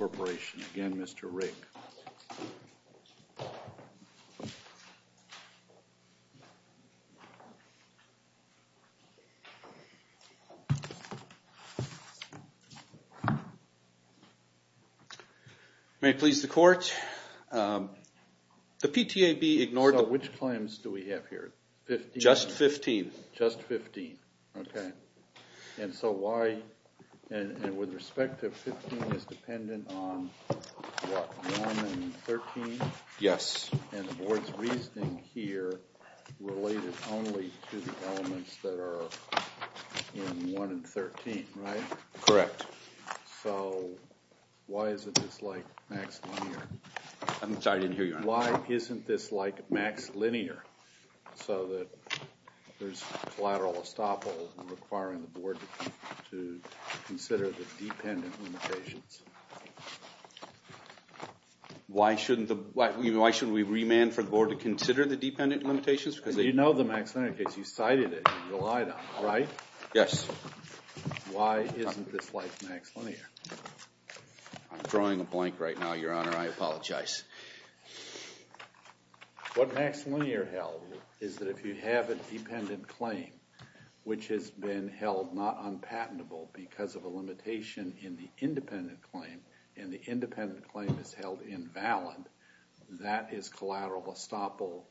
Again, Mr. Rake. May it please the Court. The PTAB ignored the… So which claims do we have here? Just 15. Just 15. Okay. And so why… and with respect to 15 is dependent on what? 1 and 13? Yes. And the Board's reasoning here related only to the elements that are in 1 and 13, right? Correct. So why isn't this like max linear? I'm sorry, I didn't hear you. Why isn't this like max linear so that there's a collateral estoppel requiring the Board to consider the dependent limitations? Why shouldn't the… why shouldn't we remand for the Board to consider the dependent limitations? Because they… You know the max linear because you cited it and relied on it, right? Yes. Why isn't this like max linear? I'm drawing a blank right now, Your Honor, I apologize. What max linear held is that if you have a dependent claim which has been held not unpatentable because of a limitation in the independent claim and the independent claim is held invalid, that is collateral estoppel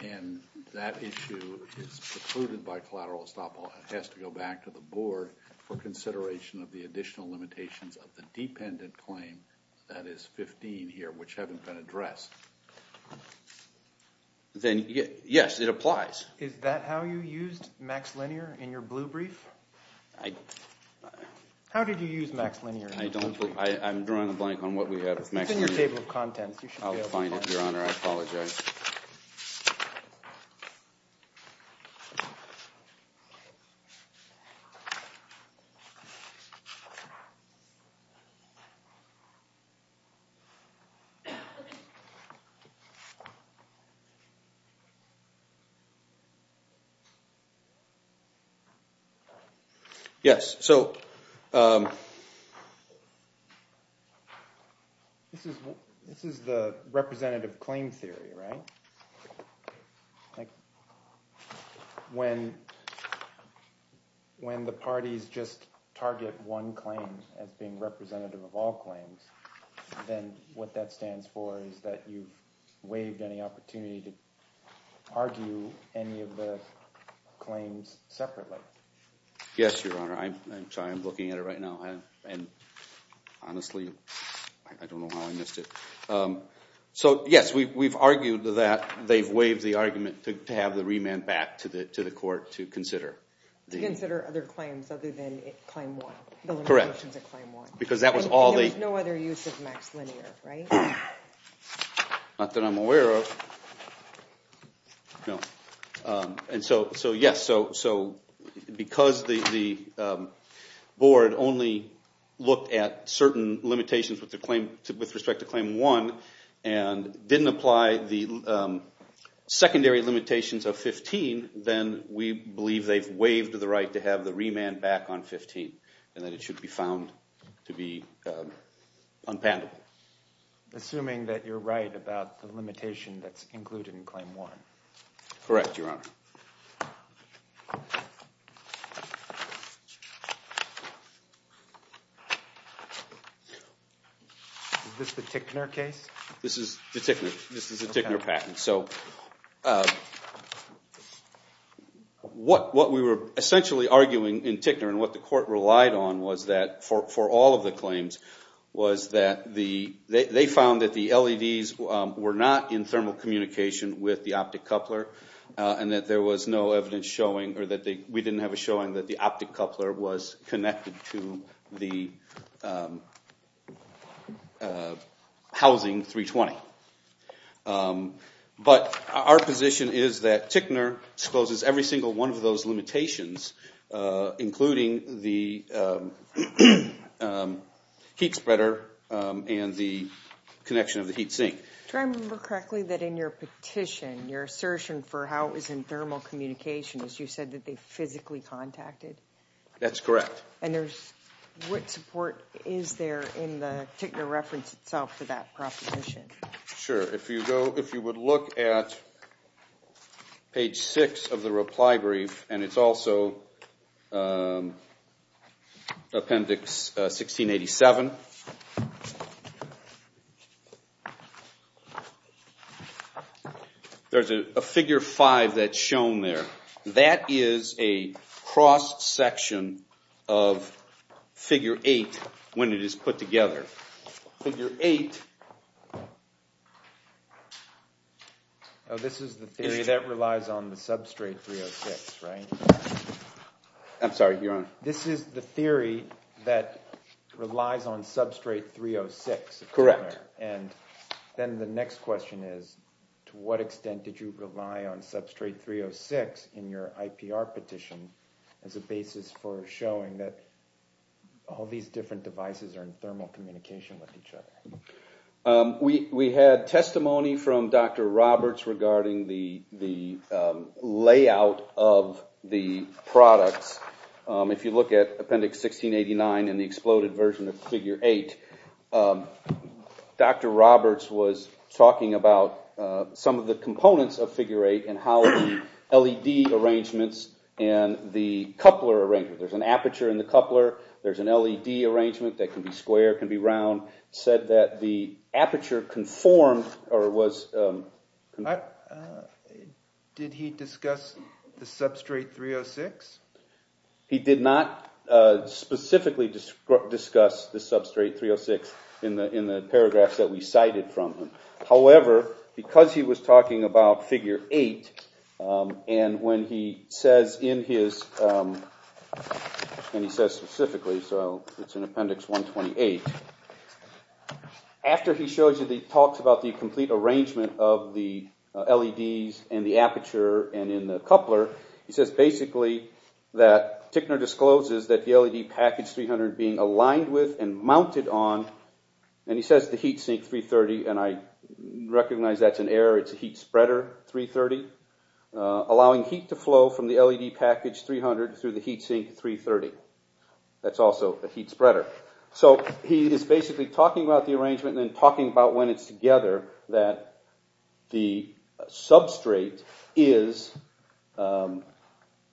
and that issue is precluded by collateral estoppel and has to go back to the Board for consideration of the additional limitations of the dependent claim, that is 15 here, which haven't been addressed, then yes, it applies. Is that how you used max linear in your blue brief? I… How did you use max linear? I don't… I'm drawing a blank on what we have. It's in your table of contents. I'll find it, Your Honor, I apologize. Okay. Yes. So this is the representative claim theory, right? When the parties just target one claim as being representative of all claims, then what that stands for is that you've waived any opportunity to argue any of the claims separately. Yes, Your Honor. I'm sorry, I'm looking at it right now and honestly, I don't know how I missed it. So yes, we've argued that they've waived the argument to have the remand back to the court to consider. To consider other claims other than claim one. Correct. The limitations of claim one. Because that was all they… There was no other use of max linear, right? Not that I'm aware of. No. And so yes, so because the Board only looked at certain limitations with respect to claim one and didn't apply the secondary limitations of 15, then we believe they've waived the right to have the remand back on 15 and that it should be found to be unpandered. Assuming that you're right about the limitation that's included in claim one. Correct, Your Honor. Is this the Tickner case? This is the Tickner patent. So what we were essentially arguing in Tickner and what the court relied on was that for all of the claims was that they found that the LEDs were not in thermal communication with the optic coupler and that there was no evidence showing or that we didn't have a showing that the optic coupler was connected to the housing 320. But our position is that Tickner discloses every single one of those limitations, including the heat spreader and the connection of the heat sink. Do I remember correctly that in your petition, your assertion for how it was in thermal communication, you said that they physically contacted? That's correct. And what support is there in the Tickner reference itself for that proposition? Sure. If you would look at page six of the reply brief, and it's also appendix 1687, there's a figure five that's shown there. That is a cross-section of figure eight when it is put together. Figure eight. Oh, this is the theory that relies on the substrate 306, right? I'm sorry, Your Honor. This is the theory that relies on substrate 306. Correct. And then the next question is, to what extent did you rely on substrate 306 in your IPR petition as a basis for showing that all these different devices are in thermal communication with each other? We had testimony from Dr. Roberts regarding the layout of the products. If you look at appendix 1689 and the exploded version of figure eight, Dr. Roberts was talking about some of the components of figure eight and how the LED arrangements and the coupler arrangement. There's an aperture in the coupler. There's an LED arrangement that can be square, can be round. He said that the aperture conformed or was conformed. Did he discuss the substrate 306? He did not specifically discuss the substrate 306 in the paragraphs that we cited from him. However, because he was talking about figure eight and when he says in his, and he says specifically, so it's in appendix 128. After he shows you the talks about the complete arrangement of the LEDs and the aperture and in the coupler, he says basically that Tickner discloses that the LED package 300 being aligned with and mounted on, and he says the heat sink 330, and I recognize that's an error. It's a heat spreader 330. Allowing heat to flow from the LED package 300 through the heat sink 330. That's also a heat spreader. So he is basically talking about the arrangement and then talking about when it's together that the substrate is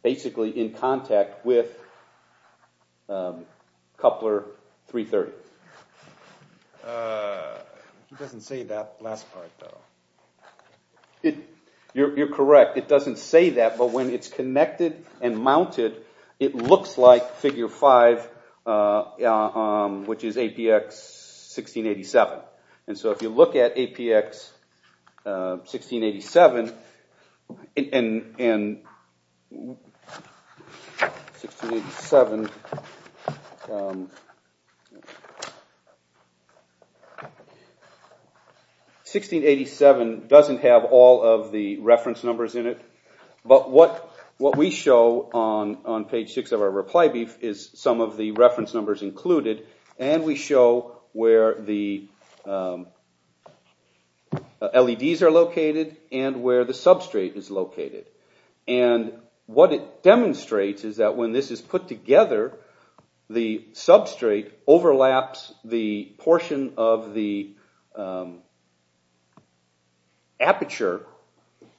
basically in contact with coupler 330. It doesn't say that last part though. You're correct. It doesn't say that, but when it's connected and mounted, it looks like figure five, which is APX 1687. And so if you look at APX 1687, and 1687 doesn't have all of the reference numbers in it, but what we show on page six of our reply brief is some of the reference numbers included, and we show where the LEDs are located and where the substrate is located. And what it demonstrates is that when this is put together, the substrate overlaps the portion of the aperture,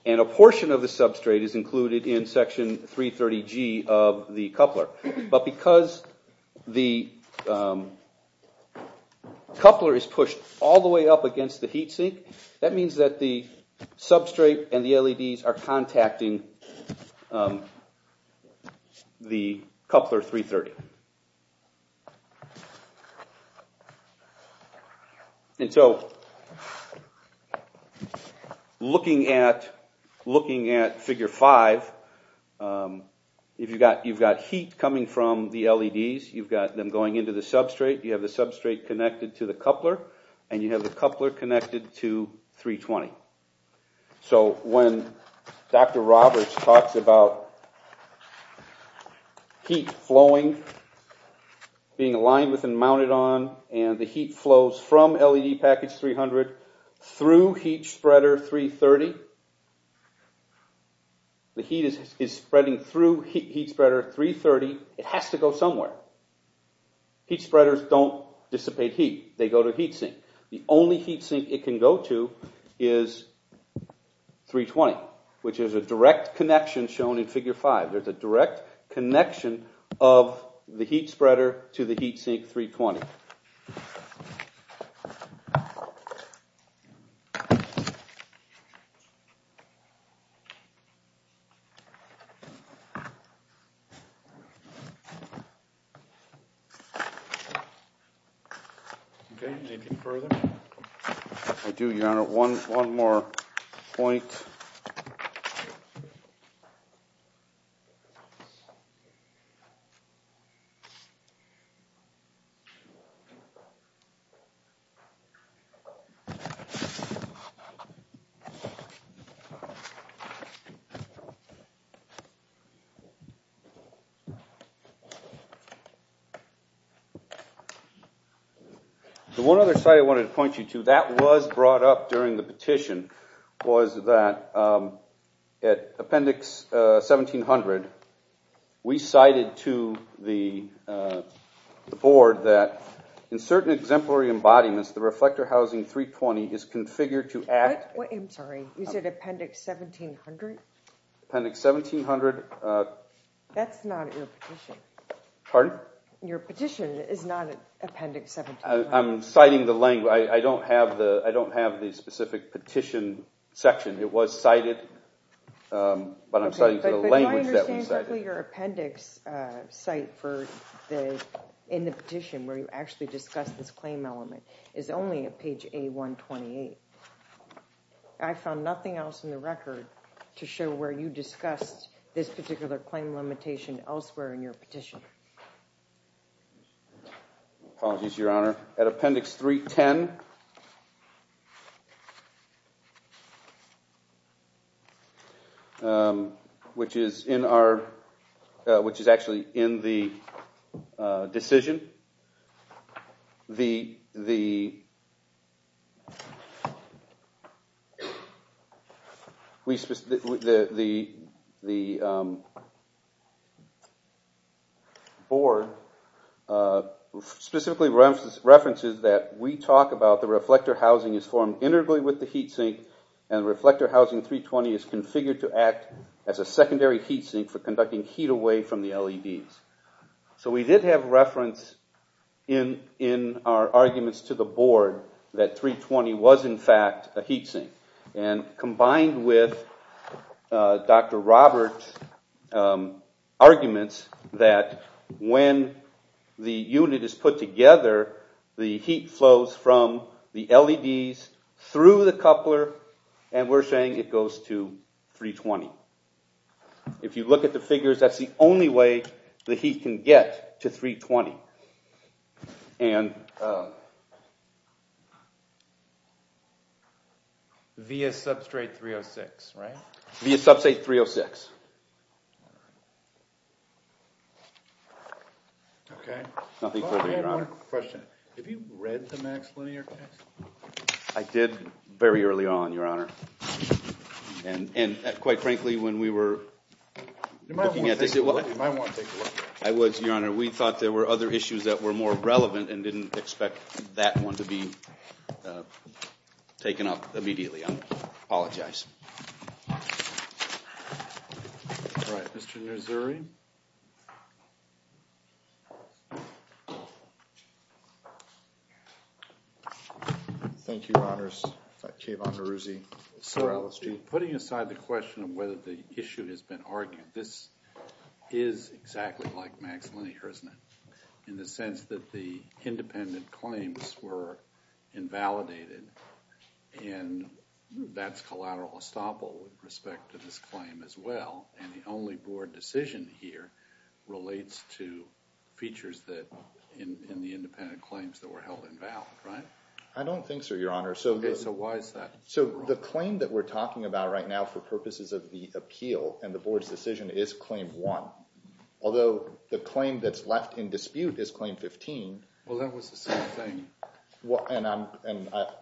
and a portion of the substrate is included in section 330G of the coupler. But because the coupler is pushed all the way up against the heat sink, that means that the substrate and the LEDs are contacting the coupler 330. And so looking at figure five, you've got heat coming from the LEDs. You've got them going into the substrate. You have the substrate connected to the coupler, and you have the coupler connected to 320. So when Dr. Roberts talks about heat flowing, being aligned with and mounted on, and the heat flows from LED package 300 through heat spreader 330, the heat is spreading through heat spreader 330, it has to go somewhere. Heat spreaders don't dissipate heat. They go to heat sink. The only heat sink it can go to is 320, which is a direct connection shown in figure five. There's a direct connection of the heat spreader to the heat sink 320. Okay, anything further? I do, Your Honor, one more point. The one other thing I wanted to point you to, that was brought up during the petition, was that at appendix 1700, we cited to the board that in certain exemplary embodiments, the reflector housing 320 is configured to act. I'm sorry, you said appendix 1700? Appendix 1700. That's not in your petition. Pardon? Your petition is not appendix 1700. I'm citing the language. I don't have the specific petition section. It was cited, but I'm citing the language that was cited. Your appendix site in the petition where you actually discussed this claim element is only at page A128. I found nothing else in the record to show where you discussed this particular claim limitation elsewhere in your petition. Apologies, Your Honor. At appendix 310, which is actually in the decision, the board specifically references that we talk about the reflector housing is formed integrally with the heat sink, and the reflector housing 320 is configured to act as a secondary heat sink for conducting heat away from the LEDs. So we did have reference in our arguments to the board that 320 was in fact a heat sink, and combined with Dr. Robert's arguments that when the unit is put together, the heat flows from the LEDs through the coupler, and we're saying it goes to 320. If you look at the figures, that's the only way the heat can get to 320. Via substrate 306, right? Via substrate 306. OK. Nothing further, Your Honor. Question. Have you read the Max Linear text? I did very early on, Your Honor. And quite frankly, when we were looking at this, I was, Your Honor, we thought there were other issues that were more relevant and didn't expect that one to be taken up immediately. I apologize. All right. Mr. Nazeri. Thank you, Your Honors. Kevan Neruzzi for LSG. Sir, putting aside the question of whether the issue has been argued, this is exactly like Max Linear, isn't it, in the sense that the independent claims were invalidated, and that's collateral estoppel with respect to this claim as well, and the only board decision here is that the claim is invalid. The only board decision here relates to features in the independent claims that were held invalid, right? I don't think so, Your Honor. OK. So why is that? So the claim that we're talking about right now for purposes of the appeal and the board's decision is Claim 1, although the claim that's left in dispute is Claim 15. Well, that was the same thing. And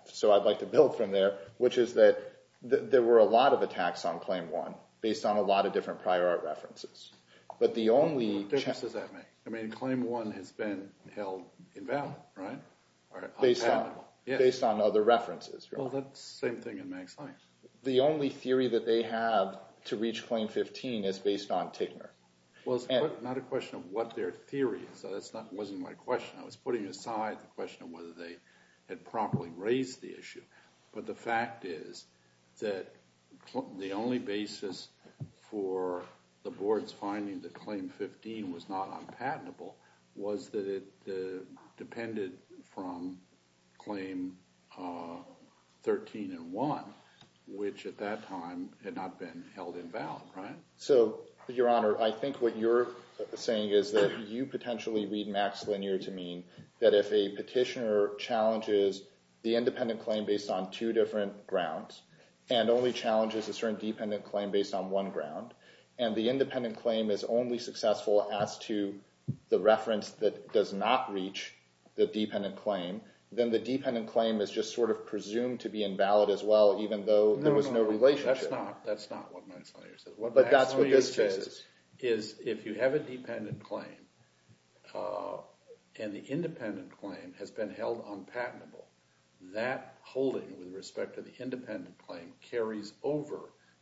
so I'd like to build from there, which is that there were a lot of attacks on Claim 1 based on a lot of different prior art references. But the only – What difference does that make? I mean, Claim 1 has been held invalid, right? Based on other references. Well, that's the same thing in Max Linear. The only theory that they have to reach Claim 15 is based on Tickner. Well, it's not a question of what their theory is. That wasn't my question. I was putting aside the question of whether they had properly raised the issue, but the fact is that the only basis for the board's finding that Claim 15 was not unpatentable was that it depended from Claim 13 and 1, which at that time had not been held invalid, right? So, Your Honor, I think what you're saying is that you potentially read Max Linear to mean that if a petitioner challenges the independent claim based on two different grounds and only challenges a certain dependent claim based on one ground and the independent claim is only successful as to the reference that does not reach the dependent claim, then the dependent claim is just sort of presumed to be invalid as well, even though there was no relationship. No, no, that's not what Max Linear says. But that's what this says. If you have a dependent claim and the independent claim has been held unpatentable, that holding with respect to the independent claim carries over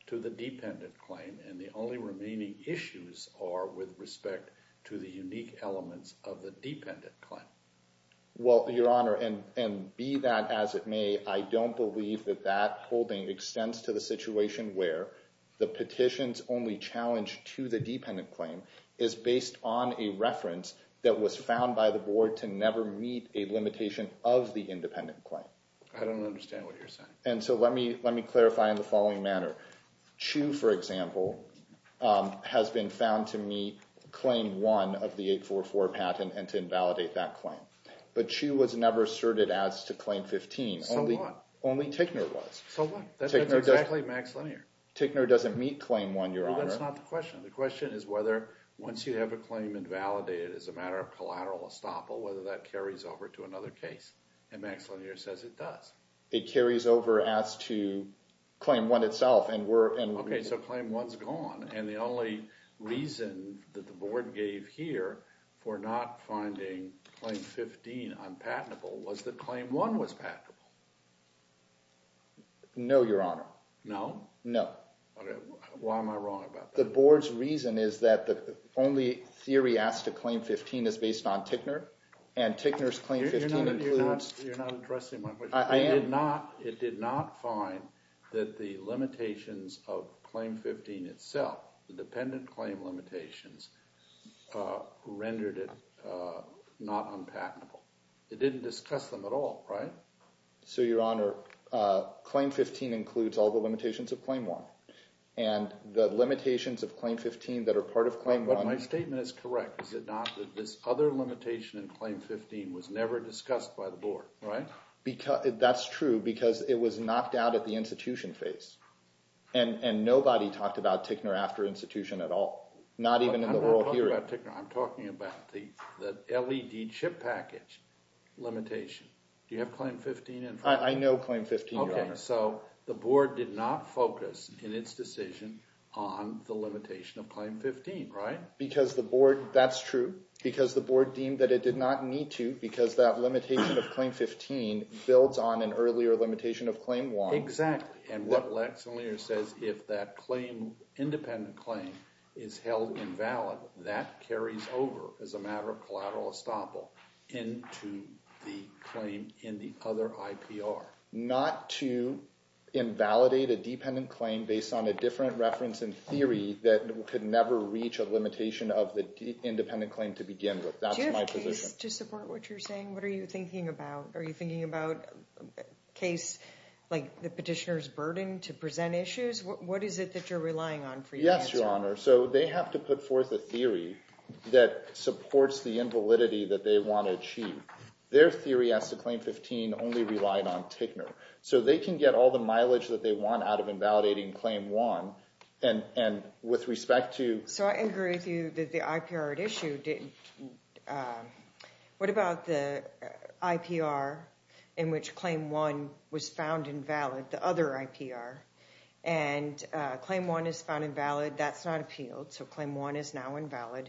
to the dependent claim, and the only remaining issues are with respect to the unique elements of the dependent claim. Well, Your Honor, and be that as it may, I don't believe that that holding extends to the situation where the petition's only challenge to the dependent claim is based on a reference that was found by the board to never meet a limitation of the independent claim. I don't understand what you're saying. And so let me clarify in the following manner. Chu, for example, has been found to meet Claim 1 of the 844 patent and to invalidate that claim. But Chu was never asserted as to Claim 15. So what? Only Tickner was. So what? That's exactly Max Linear. Tickner doesn't meet Claim 1, Your Honor. Well, that's not the question. The question is whether once you have a claim invalidated as a matter of collateral estoppel, whether that carries over to another case. And Max Linear says it does. It carries over as to Claim 1 itself. Okay, so Claim 1's gone. And the only reason that the board gave here for not finding Claim 15 unpatentable was that Claim 1 was patentable. No, Your Honor. No? No. Why am I wrong about that? The board's reason is that the only theory asked to Claim 15 is based on Tickner, and Tickner's Claim 15 includes— You're not addressing my question. I am. It did not find that the limitations of Claim 15 itself, the dependent claim limitations, rendered it not unpatentable. It didn't discuss them at all, right? So, Your Honor, Claim 15 includes all the limitations of Claim 1. And the limitations of Claim 15 that are part of Claim 1— But my statement is correct, is it not, that this other limitation in Claim 15 was never discussed by the board, right? That's true because it was knocked out at the institution phase. And nobody talked about Tickner after institution at all, not even in the oral hearing. I'm not talking about Tickner. I'm talking about the LED chip package limitation. Do you have Claim 15 in front of you? I know Claim 15, Your Honor. Okay, so the board did not focus in its decision on the limitation of Claim 15, right? Because the board—that's true because the board deemed that it did not need to because that limitation of Claim 15 builds on an earlier limitation of Claim 1. Exactly. And what Lex and Lear says, if that claim—independent claim is held invalid, that carries over as a matter of collateral estoppel into the claim in the other IPR. Not to invalidate a dependent claim based on a different reference in theory that could never reach a limitation of the independent claim to begin with. That's my position. Do you have a case to support what you're saying? What are you thinking about? Are you thinking about a case like the petitioner's burden to present issues? What is it that you're relying on for your answer? Yes, Your Honor. So they have to put forth a theory that supports the invalidity that they want to achieve. Their theory as to Claim 15 only relied on Tickner. So they can get all the mileage that they want out of invalidating Claim 1, and with respect to— So I agree with you that the IPR at issue—what about the IPR in which Claim 1 was found invalid, the other IPR? And Claim 1 is found invalid. That's not appealed, so Claim 1 is now invalid.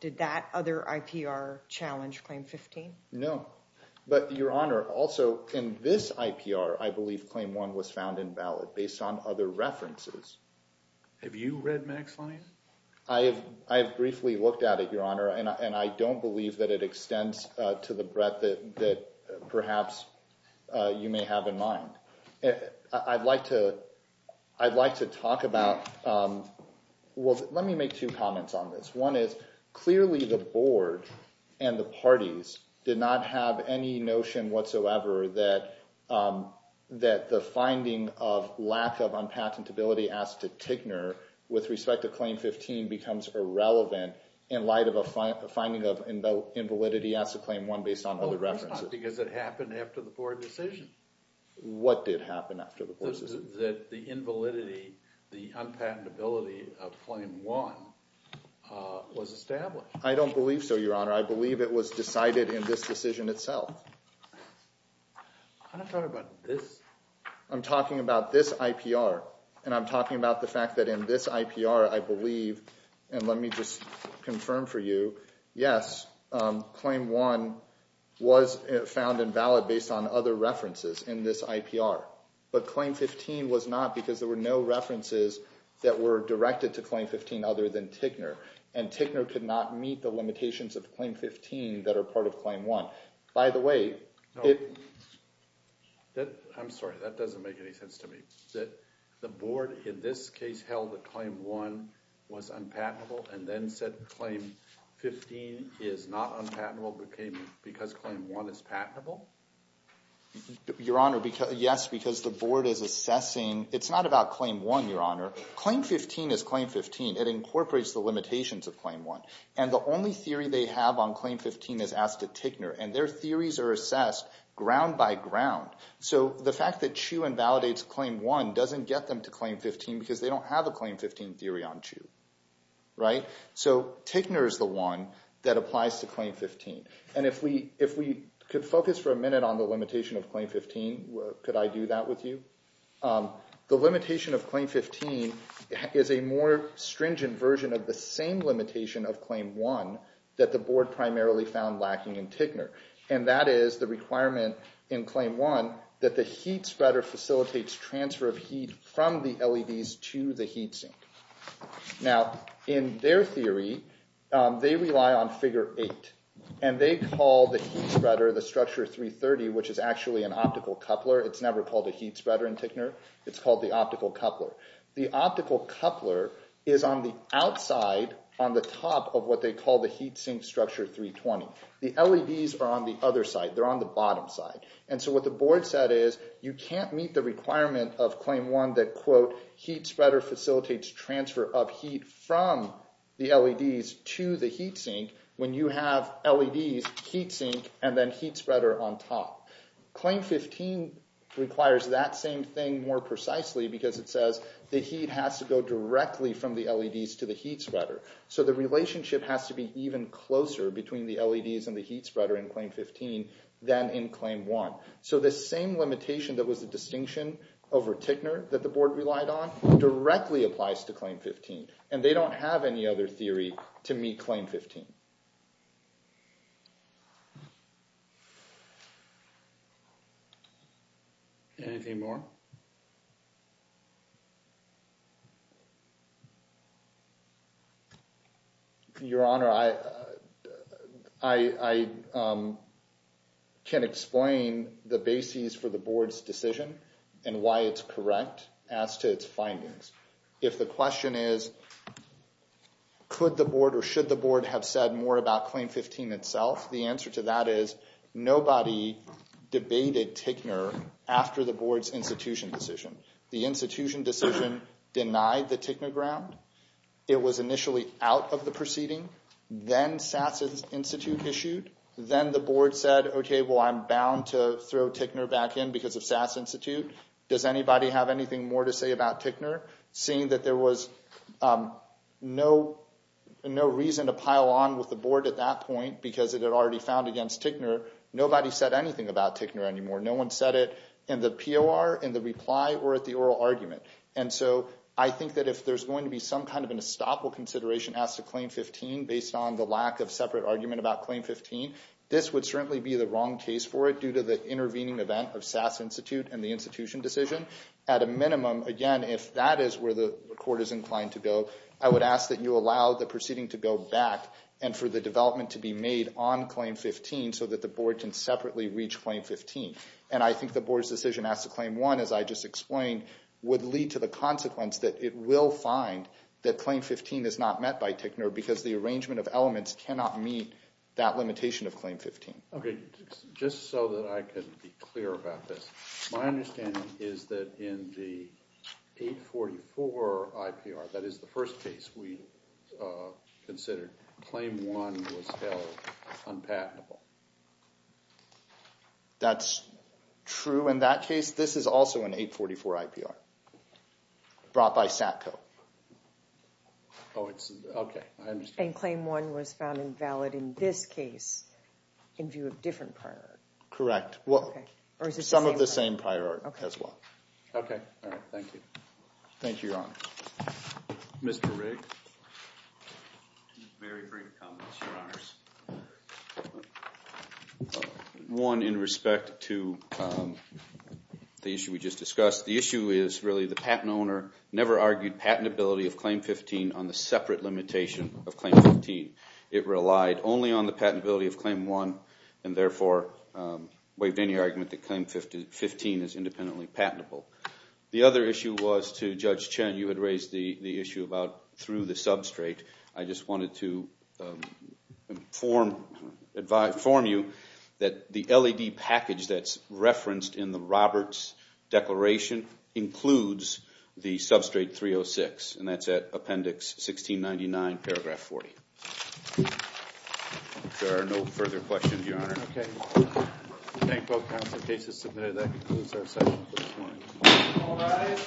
Did that other IPR challenge Claim 15? No. But, Your Honor, also in this IPR, I believe Claim 1 was found invalid based on other references. Have you read Max Line? I have briefly looked at it, Your Honor, and I don't believe that it extends to the breadth that perhaps you may have in mind. I'd like to talk about—well, let me make two comments on this. One is clearly the Board and the parties did not have any notion whatsoever that the finding of lack of unpatentability as to Tickner with respect to Claim 15 becomes irrelevant in light of a finding of invalidity as to Claim 1 based on other references. Well, of course not, because it happened after the Board decision. What did happen after the Board decision? That the invalidity, the unpatentability of Claim 1 was established. I don't believe so, Your Honor. I believe it was decided in this decision itself. I'm not talking about this. I'm talking about this IPR, and I'm talking about the fact that in this IPR, I believe, and let me just confirm for you, yes, Claim 1 was found invalid based on other references in this IPR. But Claim 15 was not because there were no references that were directed to Claim 15 other than Tickner. And Tickner could not meet the limitations of Claim 15 that are part of Claim 1. By the way— I'm sorry. That doesn't make any sense to me. The Board in this case held that Claim 1 was unpatentable and then said Claim 15 is not unpatentable because Claim 1 is patentable? Your Honor, yes, because the Board is assessing—it's not about Claim 1, Your Honor. Claim 15 is Claim 15. It incorporates the limitations of Claim 1. And the only theory they have on Claim 15 is asked at Tickner, and their theories are assessed ground by ground. So the fact that CHU invalidates Claim 1 doesn't get them to Claim 15 because they don't have a Claim 15 theory on CHU. Right? So Tickner is the one that applies to Claim 15. And if we could focus for a minute on the limitation of Claim 15, could I do that with you? The limitation of Claim 15 is a more stringent version of the same limitation of Claim 1 that the Board primarily found lacking in Tickner. And that is the requirement in Claim 1 that the heat spreader facilitates transfer of heat from the LEDs to the heat sink. Now, in their theory, they rely on Figure 8, and they call the heat spreader, the Structure 330, which is actually an optical coupler. It's never called a heat spreader in Tickner. It's called the optical coupler. The optical coupler is on the outside on the top of what they call the heat sink Structure 320. The LEDs are on the other side. They're on the bottom side. And so what the Board said is you can't meet the requirement of Claim 1 that, quote, heat spreader facilitates transfer of heat from the LEDs to the heat sink when you have LEDs, heat sink, and then heat spreader on top. Claim 15 requires that same thing more precisely because it says the heat has to go directly from the LEDs to the heat spreader. So the relationship has to be even closer between the LEDs and the heat spreader in Claim 15 than in Claim 1. So the same limitation that was the distinction over Tickner that the Board relied on directly applies to Claim 15, and they don't have any other theory to meet Claim 15. Anything more? Your Honor, I can't explain the basis for the Board's decision and why it's correct as to its findings. If the question is could the Board or should the Board have said more about Claim 15 itself, the answer to that is nobody debated Tickner after the Board's institution decision. The institution decision denied the Tickner ground. It was initially out of the proceeding. Then SAS Institute issued. Then the Board said, OK, well, I'm bound to throw Tickner back in because of SAS Institute. Does anybody have anything more to say about Tickner? Seeing that there was no reason to pile on with the Board at that point because it had already found against Tickner, nobody said anything about Tickner anymore. No one said it in the POR, in the reply, or at the oral argument. And so I think that if there's going to be some kind of an estoppel consideration as to Claim 15 based on the lack of separate argument about Claim 15, this would certainly be the wrong case for it due to the intervening event of SAS Institute and the institution decision. At a minimum, again, if that is where the Court is inclined to go, I would ask that you allow the proceeding to go back and for the development to be made on Claim 15 so that the Board can separately reach Claim 15. And I think the Board's decision as to Claim 1, as I just explained, would lead to the consequence that it will find that Claim 15 is not met by Tickner because the arrangement of elements cannot meet that limitation of Claim 15. OK, just so that I can be clear about this, my understanding is that in the 844 IPR, that is the first case we considered, Claim 1 was held unpatentable. That's true in that case. This is also an 844 IPR brought by SATCO. Oh, OK, I understand. And Claim 1 was found invalid in this case in view of different prior art. Correct. Or is it the same prior art? Some of the same prior art as well. OK, all right. Thank you. Thank you, Your Honor. Mr. Riggs? Very brief comments, Your Honors. One, in respect to the issue we just discussed, the issue is really the patent owner never argued patentability of Claim 15 on the separate limitation of Claim 15. It relied only on the patentability of Claim 1 and therefore waived any argument that Claim 15 is independently patentable. The other issue was to Judge Chen. You had raised the issue about through the substrate. I just wanted to inform you that the LED package that's referenced in the Roberts Declaration includes the substrate 306, and that's at Appendix 1699, Paragraph 40. If there are no further questions, Your Honor. OK. Thank you. Thank both counts of cases submitted. That concludes our session for this morning. All rise.